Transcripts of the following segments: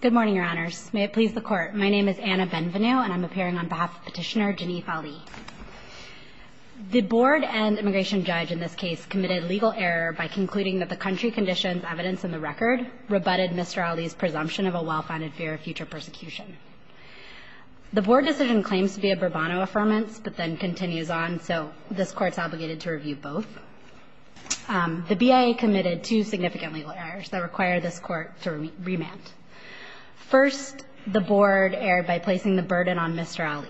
Good morning, your honors. May it please the court. My name is Anna Benvenue, and I'm appearing on behalf of Petitioner Janeef Ali. The board and immigration judge in this case committed legal error by concluding that the country conditions evidence in the record rebutted Mr. Ali's presumption of a well-founded fear of future persecution. The board decision claims to be a Burbano Affirmance, but then continues on, so this court's obligated to review both. The BIA committed two significant legal errors that require this court to remand. First, the board erred by placing the burden on Mr. Ali.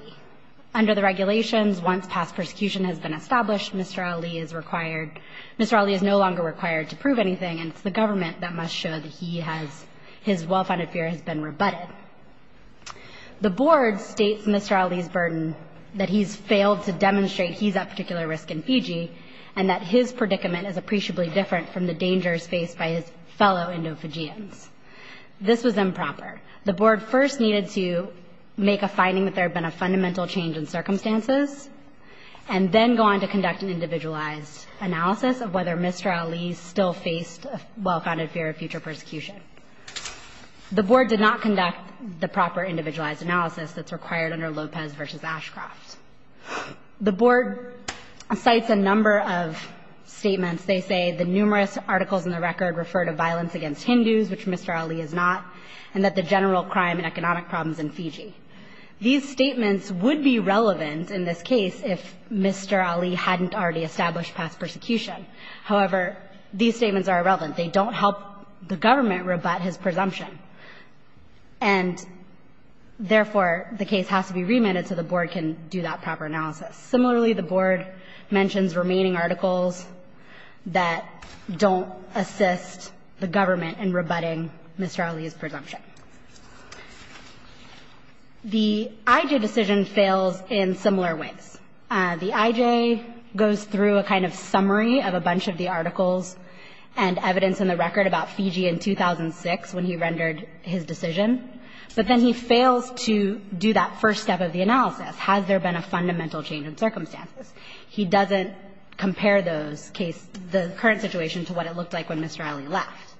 Under the regulations, once past persecution has been established, Mr. Ali is required Mr. Ali is no longer required to prove anything, and it's the government that must show that he has his well-founded fear has been rebutted. The board states Mr. Ali's burden that he's failed to demonstrate he's at particular risk in Fiji and that his predicament is appreciably different from the dangers faced by his fellow Indo-Fijians. This was improper. The board first needed to make a finding that there had been a fundamental change in circumstances and then go on to conduct an individualized analysis of whether Mr. Ali still faced a well-founded fear of future persecution. The board did not conduct the proper individualized analysis that's required under Lopez v. Ashcroft. The board cites a number of statements. They say the numerous articles in the record refer to violence against Hindus, which Mr. Ali is not, and that the general crime and economic problems in Fiji. These statements would be relevant in this case if Mr. Ali hadn't already established past persecution. However, these statements are irrelevant. They don't help the government rebut his presumption. And therefore, the case has to be remitted so the board can do that proper analysis. Similarly, the board mentions remaining articles that don't assist the government in rebutting Mr. Ali's presumption. The IJ decision fails in similar ways. The IJ goes through a kind of summary of a bunch of the articles and evidence in the record about Fiji in 2006 when he rendered his decision, but then he fails to do that first step of the analysis. Has there been a fundamental change in circumstances? He doesn't compare those cases, the current situation, to what it looked like when Mr. Ali left.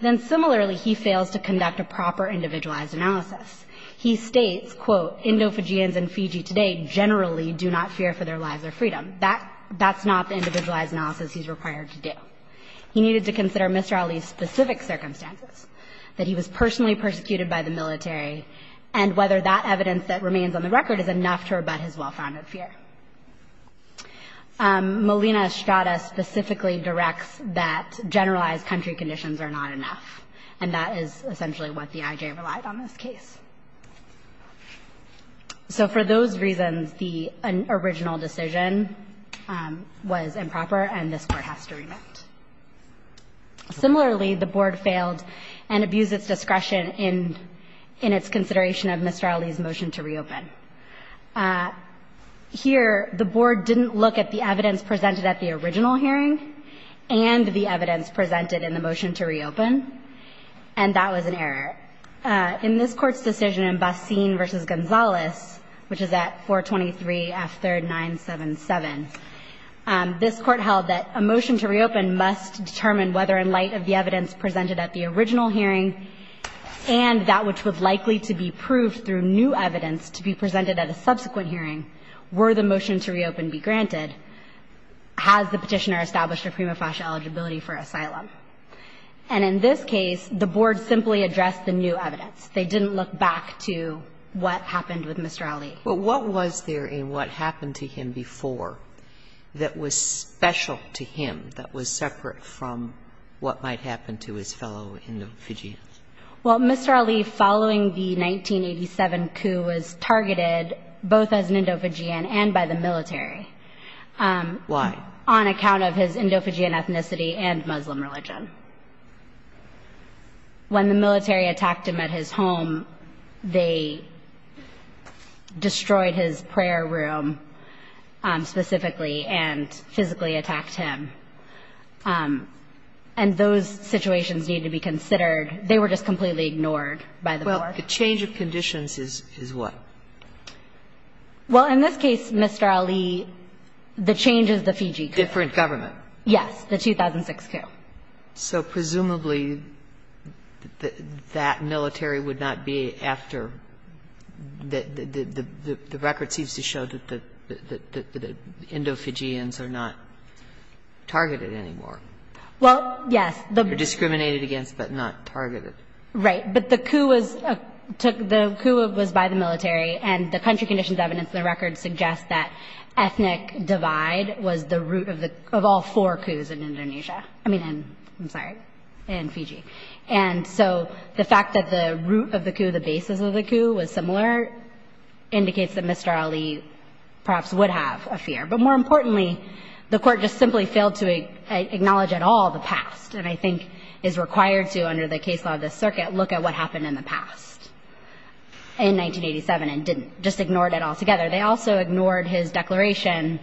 Then similarly, he fails to conduct a proper individualized analysis. He states, quote, Endo-Fijians in Fiji today generally do not fear for their lives or freedom. That's not the individualized analysis he's required to do. He needed to consider Mr. Ali's specific circumstances, that he was personally persecuted by the military, and whether that evidence that remains on the record is enough to rebut his well-founded fear. Molina-Estrada specifically directs that generalized country conditions are not enough, and that is essentially what the IJ relied on this case. So for those reasons, the original decision was improper, and this Court has to rebut. Similarly, the Board failed and abused its discretion in its consideration of Mr. Ali's motion to reopen. Here, the Board didn't look at the evidence presented at the original hearing and the evidence presented in the motion to reopen, and that was an error. In this Court's decision in Bassin v. Gonzalez, which is at 423 F3rd 977, this Court held that a motion to reopen must determine whether in light of the evidence presented at the original hearing and that which was likely to be proved through new evidence to be presented at a subsequent hearing, were the motion to reopen be granted, has the Petitioner established a prima facie eligibility for asylum. And in this case, the Board simply addressed the new evidence. They didn't look back to what happened with Mr. Ali. But what was there in what happened to him before that was special to him, that was separate from what might happen to his fellow Indofijians? Well, Mr. Ali, following the 1987 coup, was targeted both as an Indofijian and by the military. Why? On account of his Indofijian ethnicity and Muslim religion. When the military attacked him at his home, they destroyed his prayer room specifically and physically attacked him. And those situations need to be considered. They were just completely ignored by the Board. Well, the change of conditions is what? Well, in this case, Mr. Ali, the change is the Fiji coup. Different government. Yes, the 2006 coup. So presumably, that military would not be after the record seems to show that the Indofijians are not targeted anymore. Well, yes. They're discriminated against but not targeted. Right. But the coup was by the military and the country conditions evidence in the record suggest that ethnic divide was the root of all four coups in Indonesia. I mean, I'm sorry, in Fiji. And so the fact that the root of the coup, the basis of the coup, was similar indicates that Mr. Ali perhaps would have a fear. But more importantly, the Court just simply failed to acknowledge at all the past and I think is required to under the case law of the circuit look at what happened in the past in 1987 and didn't, just ignored it altogether. They also ignored his declaration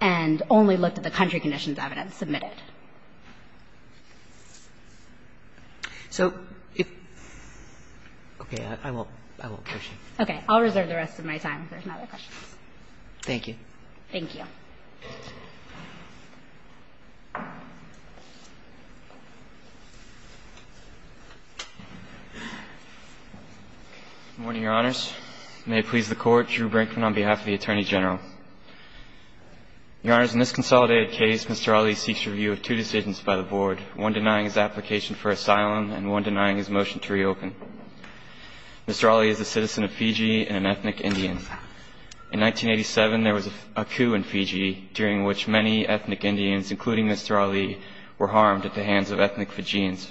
and only looked at the country conditions evidence submitted. So if – okay, I won't push you. Okay. I'll reserve the rest of my time if there's no other questions. Thank you. Thank you. Good morning, Your Honors. May it please the Court, Drew Brinkman on behalf of the Attorney General. Your Honors, in this consolidated case, Mr. Ali seeks review of two decisions by the Board, one denying his application for asylum and one denying his motion to reopen. Mr. Ali is a citizen of Fiji and an ethnic Indian. In 1987, there was a coup in Fiji during which many ethnic Indians, including Mr. Ali, were harmed at the hands of ethnic Fijians.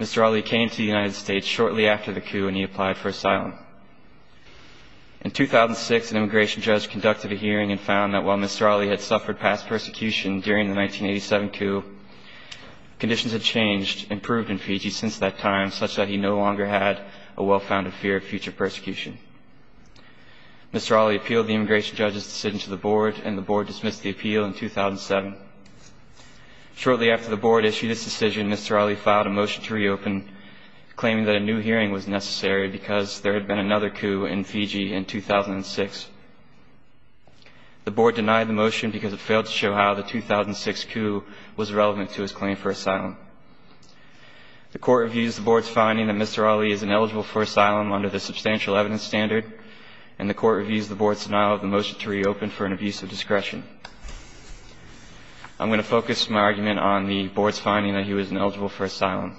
Mr. Ali came to the United States shortly after the coup and he applied for asylum. In 2006, an immigration judge conducted a hearing and found that while Mr. Ali had suffered past persecution during the 1987 coup, conditions had changed and improved in Fiji since that time such that he no longer had a well-founded fear of future persecution. Mr. Ali appealed the immigration judge's decision to the Board, and the Board dismissed the appeal in 2007. Shortly after the Board issued its decision, Mr. Ali filed a motion to reopen, claiming that a new hearing was necessary because there had been another coup in Fiji in 2006. The Board denied the motion because it failed to show how the 2006 coup was relevant to his claim for asylum. The Court reviews the Board's finding that Mr. Ali is ineligible for asylum under the substantial evidence standard, and the Court reviews the Board's denial of the motion to reopen for an abuse of discretion. I'm going to focus my argument on the Board's finding that he was ineligible for asylum.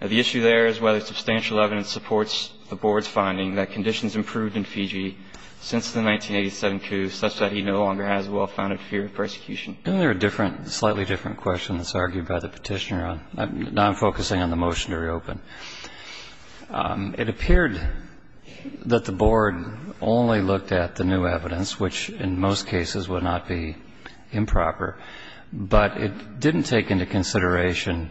Now, the issue there is whether substantial evidence supports the Board's finding that conditions improved in Fiji since the 1987 coup such that he no longer has a well-founded fear of persecution. Isn't there a slightly different question that's argued by the petitioner? Now I'm focusing on the motion to reopen. It appeared that the Board only looked at the new evidence, which in most cases would not be improper, but it didn't take into consideration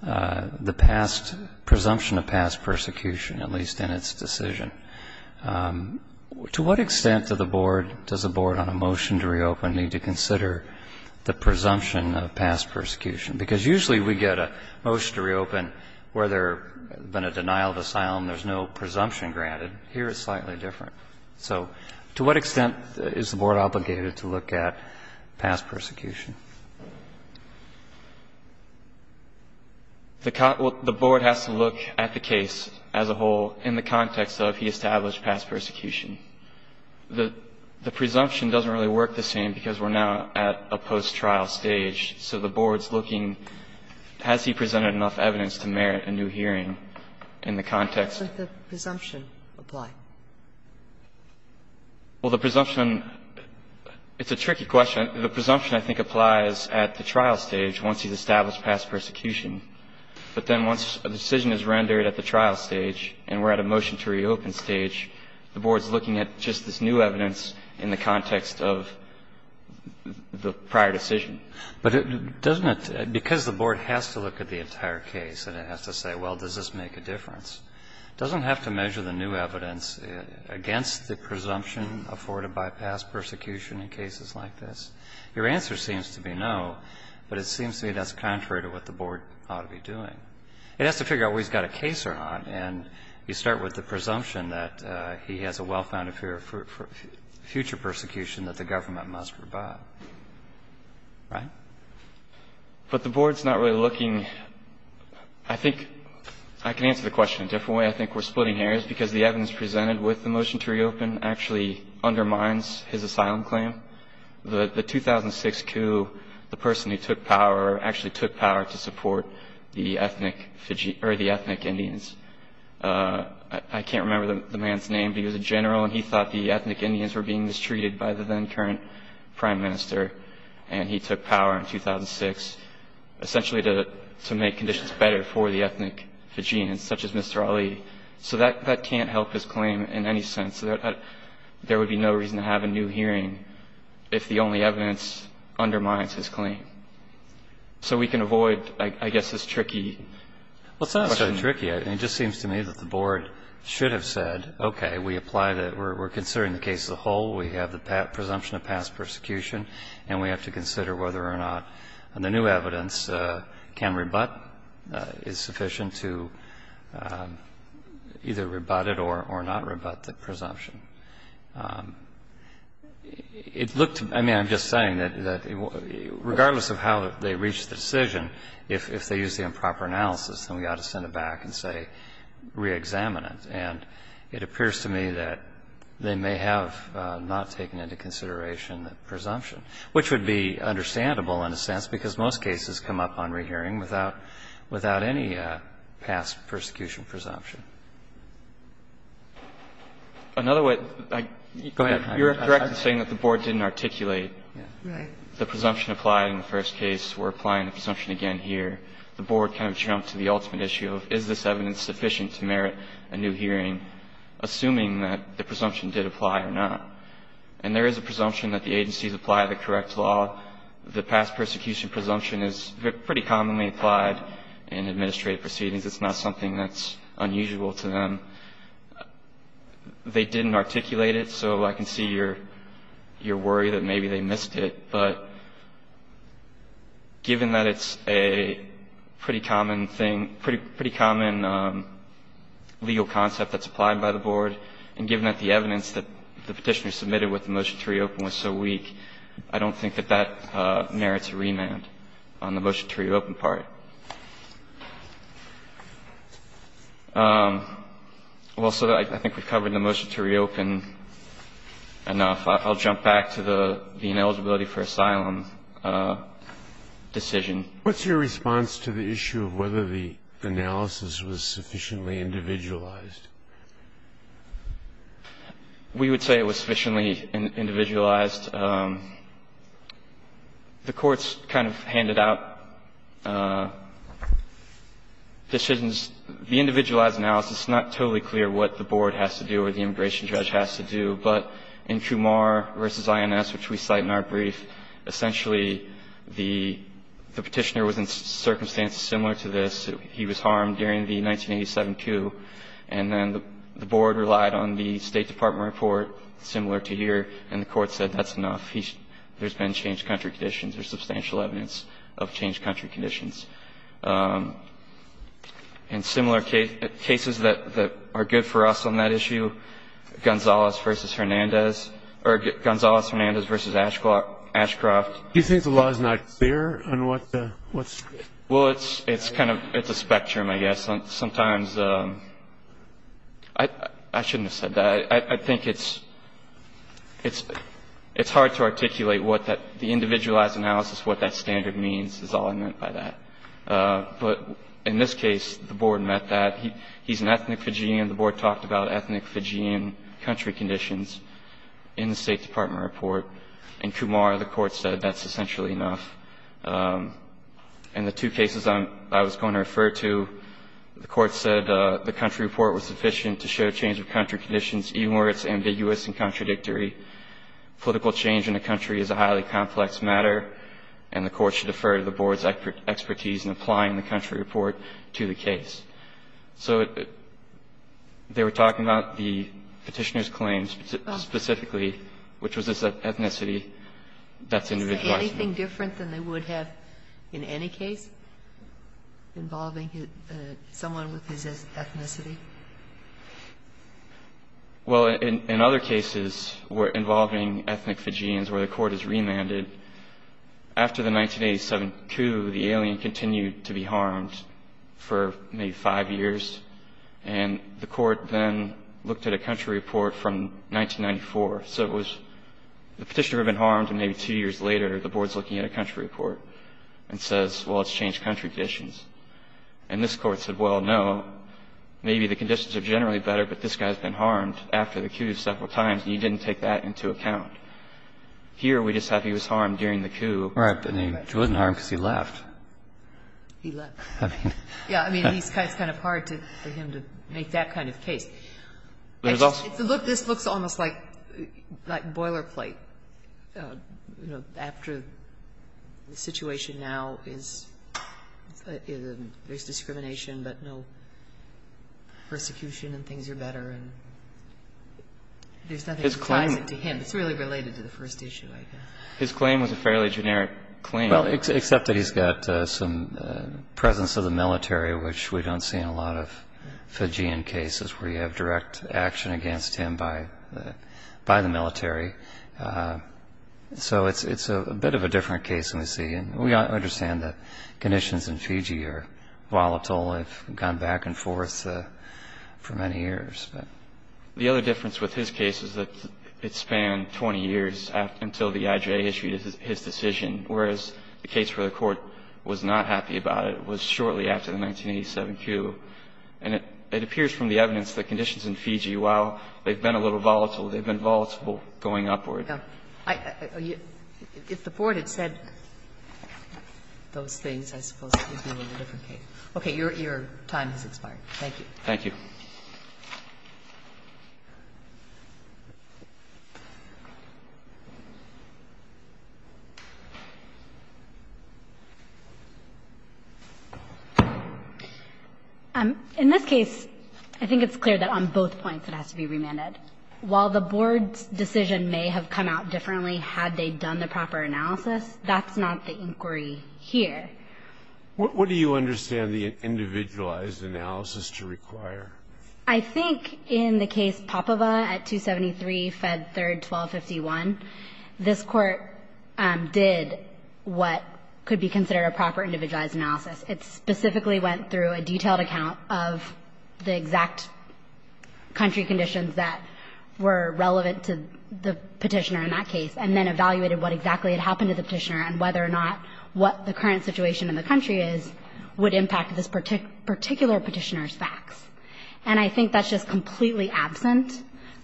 the presumption of past persecution, at least in its decision. To what extent to the Board does the Board on a motion to reopen need to consider the presumption of past persecution? Because usually we get a motion to reopen where there has been a denial of asylum, there's no presumption granted. Here it's slightly different. So to what extent is the Board obligated to look at past persecution? The Board has to look at the case as a whole in the context of he established past persecution. The presumption doesn't really work the same because we're now at a post-trial stage. So the Board's looking, has he presented enough evidence to merit a new hearing in the context of the presumption? Well, the presumption, it's a tricky question. The presumption, I think, applies at the trial stage once he's established past persecution. But then once a decision is rendered at the trial stage and we're at a motion to reopen stage, the Board's looking at just this new evidence in the context of the prior decision. But doesn't it, because the Board has to look at the entire case and it has to say, well, does this make a difference, doesn't it have to measure the new evidence against the presumption afforded by past persecution in cases like this? Your answer seems to be no, but it seems to me that's contrary to what the Board ought to be doing. It has to figure out what he's got a case on. And you start with the presumption that he has a well-founded fear of future persecution that the government must revive. Right? But the Board's not really looking. I think I can answer the question a different way. I think we're splitting hairs because the evidence presented with the motion to reopen actually undermines his asylum claim. The 2006 coup, the person who took power actually took power to support the ethnic Fijians or the ethnic Indians. I can't remember the man's name, but he was a general and he thought the ethnic Indians were being mistreated by the then-current prime minister. And he took power in 2006 essentially to make conditions better for the ethnic Fijians, such as Mr. Ali. So that can't help his claim in any sense. There would be no reason to have a new hearing if the only evidence undermines his claim. So we can avoid, I guess, this tricky question. Well, it's not so tricky. I mean, it just seems to me that the Board should have said, okay, we apply that we're considering the case as a whole, we have the presumption of past persecution, and we have to consider whether or not the new evidence can rebut, is sufficient to either rebut it or not rebut the presumption. It looked, I mean, I'm just saying that regardless of how they reach the decision, if they use the improper analysis, then we ought to send it back and, say, reexamine it. And it appears to me that they may have not taken into consideration the presumption, which would be understandable in a sense, because most cases come up on rehearing without any past persecution presumption. Another way to go ahead. You're correct in saying that the Board didn't articulate the presumption applied in the first case. We're applying the presumption again here. The Board kind of jumped to the ultimate issue of is this evidence sufficient to merit a new hearing, assuming that the presumption did apply or not. And there is a presumption that the agencies apply the correct law. The past persecution presumption is pretty commonly applied in administrative proceedings. It's not something that's unusual to them. They didn't articulate it, so I can see your worry that maybe they missed it. But given that it's a pretty common thing, pretty common legal concept that's applied by the Board, and given that the evidence that the Petitioner submitted with the motion to reopen was so weak, I don't think that that merits a remand on the motion to reopen part. Also, I think we've covered the motion to reopen enough. I'll jump back to the ineligibility for asylum decision. What's your response to the issue of whether the analysis was sufficiently individualized? We would say it was sufficiently individualized. The courts kind of handed out decisions. The individualized analysis, it's not totally clear what the Board has to do or the immigration judge has to do. But in Kumar v. INS, which we cite in our brief, essentially the Petitioner was in circumstances similar to this. He was harmed during the 1987 coup. And then the Board relied on the State Department report, similar to here, and the Court said that's enough. There's been changed country conditions. There's substantial evidence of changed country conditions. And similar cases that are good for us on that issue, Gonzalez v. Hernandez or Gonzalez-Hernandez v. Ashcroft. Do you think the law is not clear on what's? Well, it's kind of a spectrum, I guess. Sometimes I shouldn't have said that. I think it's hard to articulate what the individualized analysis, what that standard means is all I meant by that. But in this case, the Board met that. He's an ethnic Fijian. The Board talked about ethnic Fijian country conditions in the State Department report. In Kumar, the Court said that's essentially enough. And the two cases I was going to refer to, the Court said the country report was sufficient to show change of country conditions, even where it's ambiguous and contradictory. Political change in a country is a highly complex matter. And the Court should defer to the Board's expertise in applying the country report to the case. So they were talking about the Petitioner's claims specifically, which was this ethnicity that's individualized. Is there anything different than they would have in any case involving someone with his ethnicity? Well, in other cases where involving ethnic Fijians where the Court has remanded after the 1987 coup, the alien continued to be harmed for maybe five years. And the Court then looked at a country report from 1994. So it was the Petitioner had been harmed, and maybe two years later, the Board's looking at a country report and says, well, it's changed country conditions. And this Court said, well, no, maybe the conditions are generally better, but this guy's been harmed after the coup several times, and you didn't take that into account. Here, we just have he was harmed during the coup. Right. And he wasn't harmed because he left. He left. I mean. Yeah, I mean, it's kind of hard for him to make that kind of case. This looks almost like boilerplate, you know, after the situation now is there's discrimination, but no persecution and things are better. And there's nothing that ties it to him. It's really related to the first issue, I guess. His claim was a fairly generic claim. Well, except that he's got some presence of the military, which we don't see in a lot of Fijian cases where you have direct action against him by the military. So it's a bit of a different case than we see. And we understand that conditions in Fiji are volatile. They've gone back and forth for many years. The other difference with his case is that it spanned 20 years until the IJA issued his decision, whereas the case where the Court was not happy about it was shortly after the 1987 coup. And it appears from the evidence that conditions in Fiji, while they've been a little volatile, they've been volatile going upward. If the Court had said those things, I suppose it would be a different case. Okay. Your time has expired. Thank you. Thank you. Thank you. In this case, I think it's clear that on both points it has to be remanded. While the board's decision may have come out differently had they done the proper analysis, that's not the inquiry here. What do you understand the individualized analysis to require? I think in the case Popova at 273, Fed 3rd, 1251, this Court did what could be considered a proper individualized analysis. It specifically went through a detailed account of the exact country conditions that were relevant to the Petitioner in that case, and then evaluated what exactly had happened to the Petitioner and whether or not what the current situation in the country is would impact this particular Petitioner's facts. And I think that's just completely absent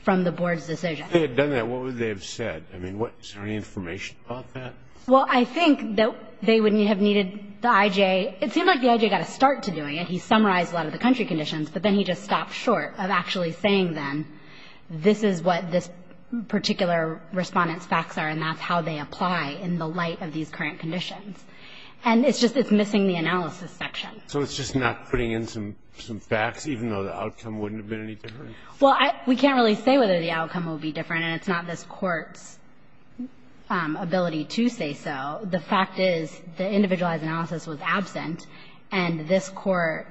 from the board's decision. If they had done that, what would they have said? I mean, is there any information about that? Well, I think that they would have needed the I.J. It seemed like the I.J. got a start to doing it. He summarized a lot of the country conditions, but then he just stopped short of actually saying then, this is what this particular Respondent's facts are and that's how they apply in the light of these current conditions. And it's just it's missing the analysis section. So it's just not putting in some facts, even though the outcome wouldn't have been any different? Well, we can't really say whether the outcome will be different, and it's not this Court's ability to say so. The fact is the individualized analysis was absent, and this Court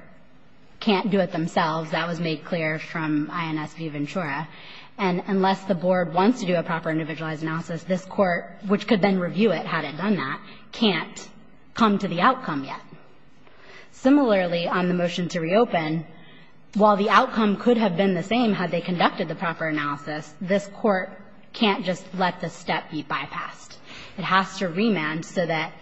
can't do it themselves. That was made clear from INS v. Ventura. And unless the board wants to do a proper individualized analysis, this Court, which could then review it had it done that, can't come to the outcome yet. Similarly, on the motion to reopen, while the outcome could have been the same had they conducted the proper analysis, this Court can't just let the step be bypassed. It has to remand so that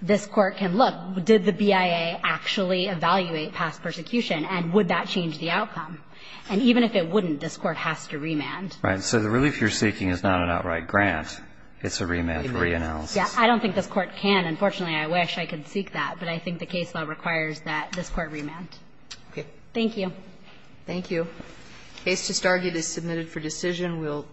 this Court can look, did the BIA actually evaluate past persecution, and would that change the outcome? And even if it wouldn't, this Court has to remand. Right. So the relief you're seeking is not an outright grant. It's a remand for reanalysis. Yeah. I don't think this Court can. Unfortunately, I wish I could seek that. But I think the case law requires that this Court remand. Okay. Thank you. Thank you. The case just argued is submitted for decision.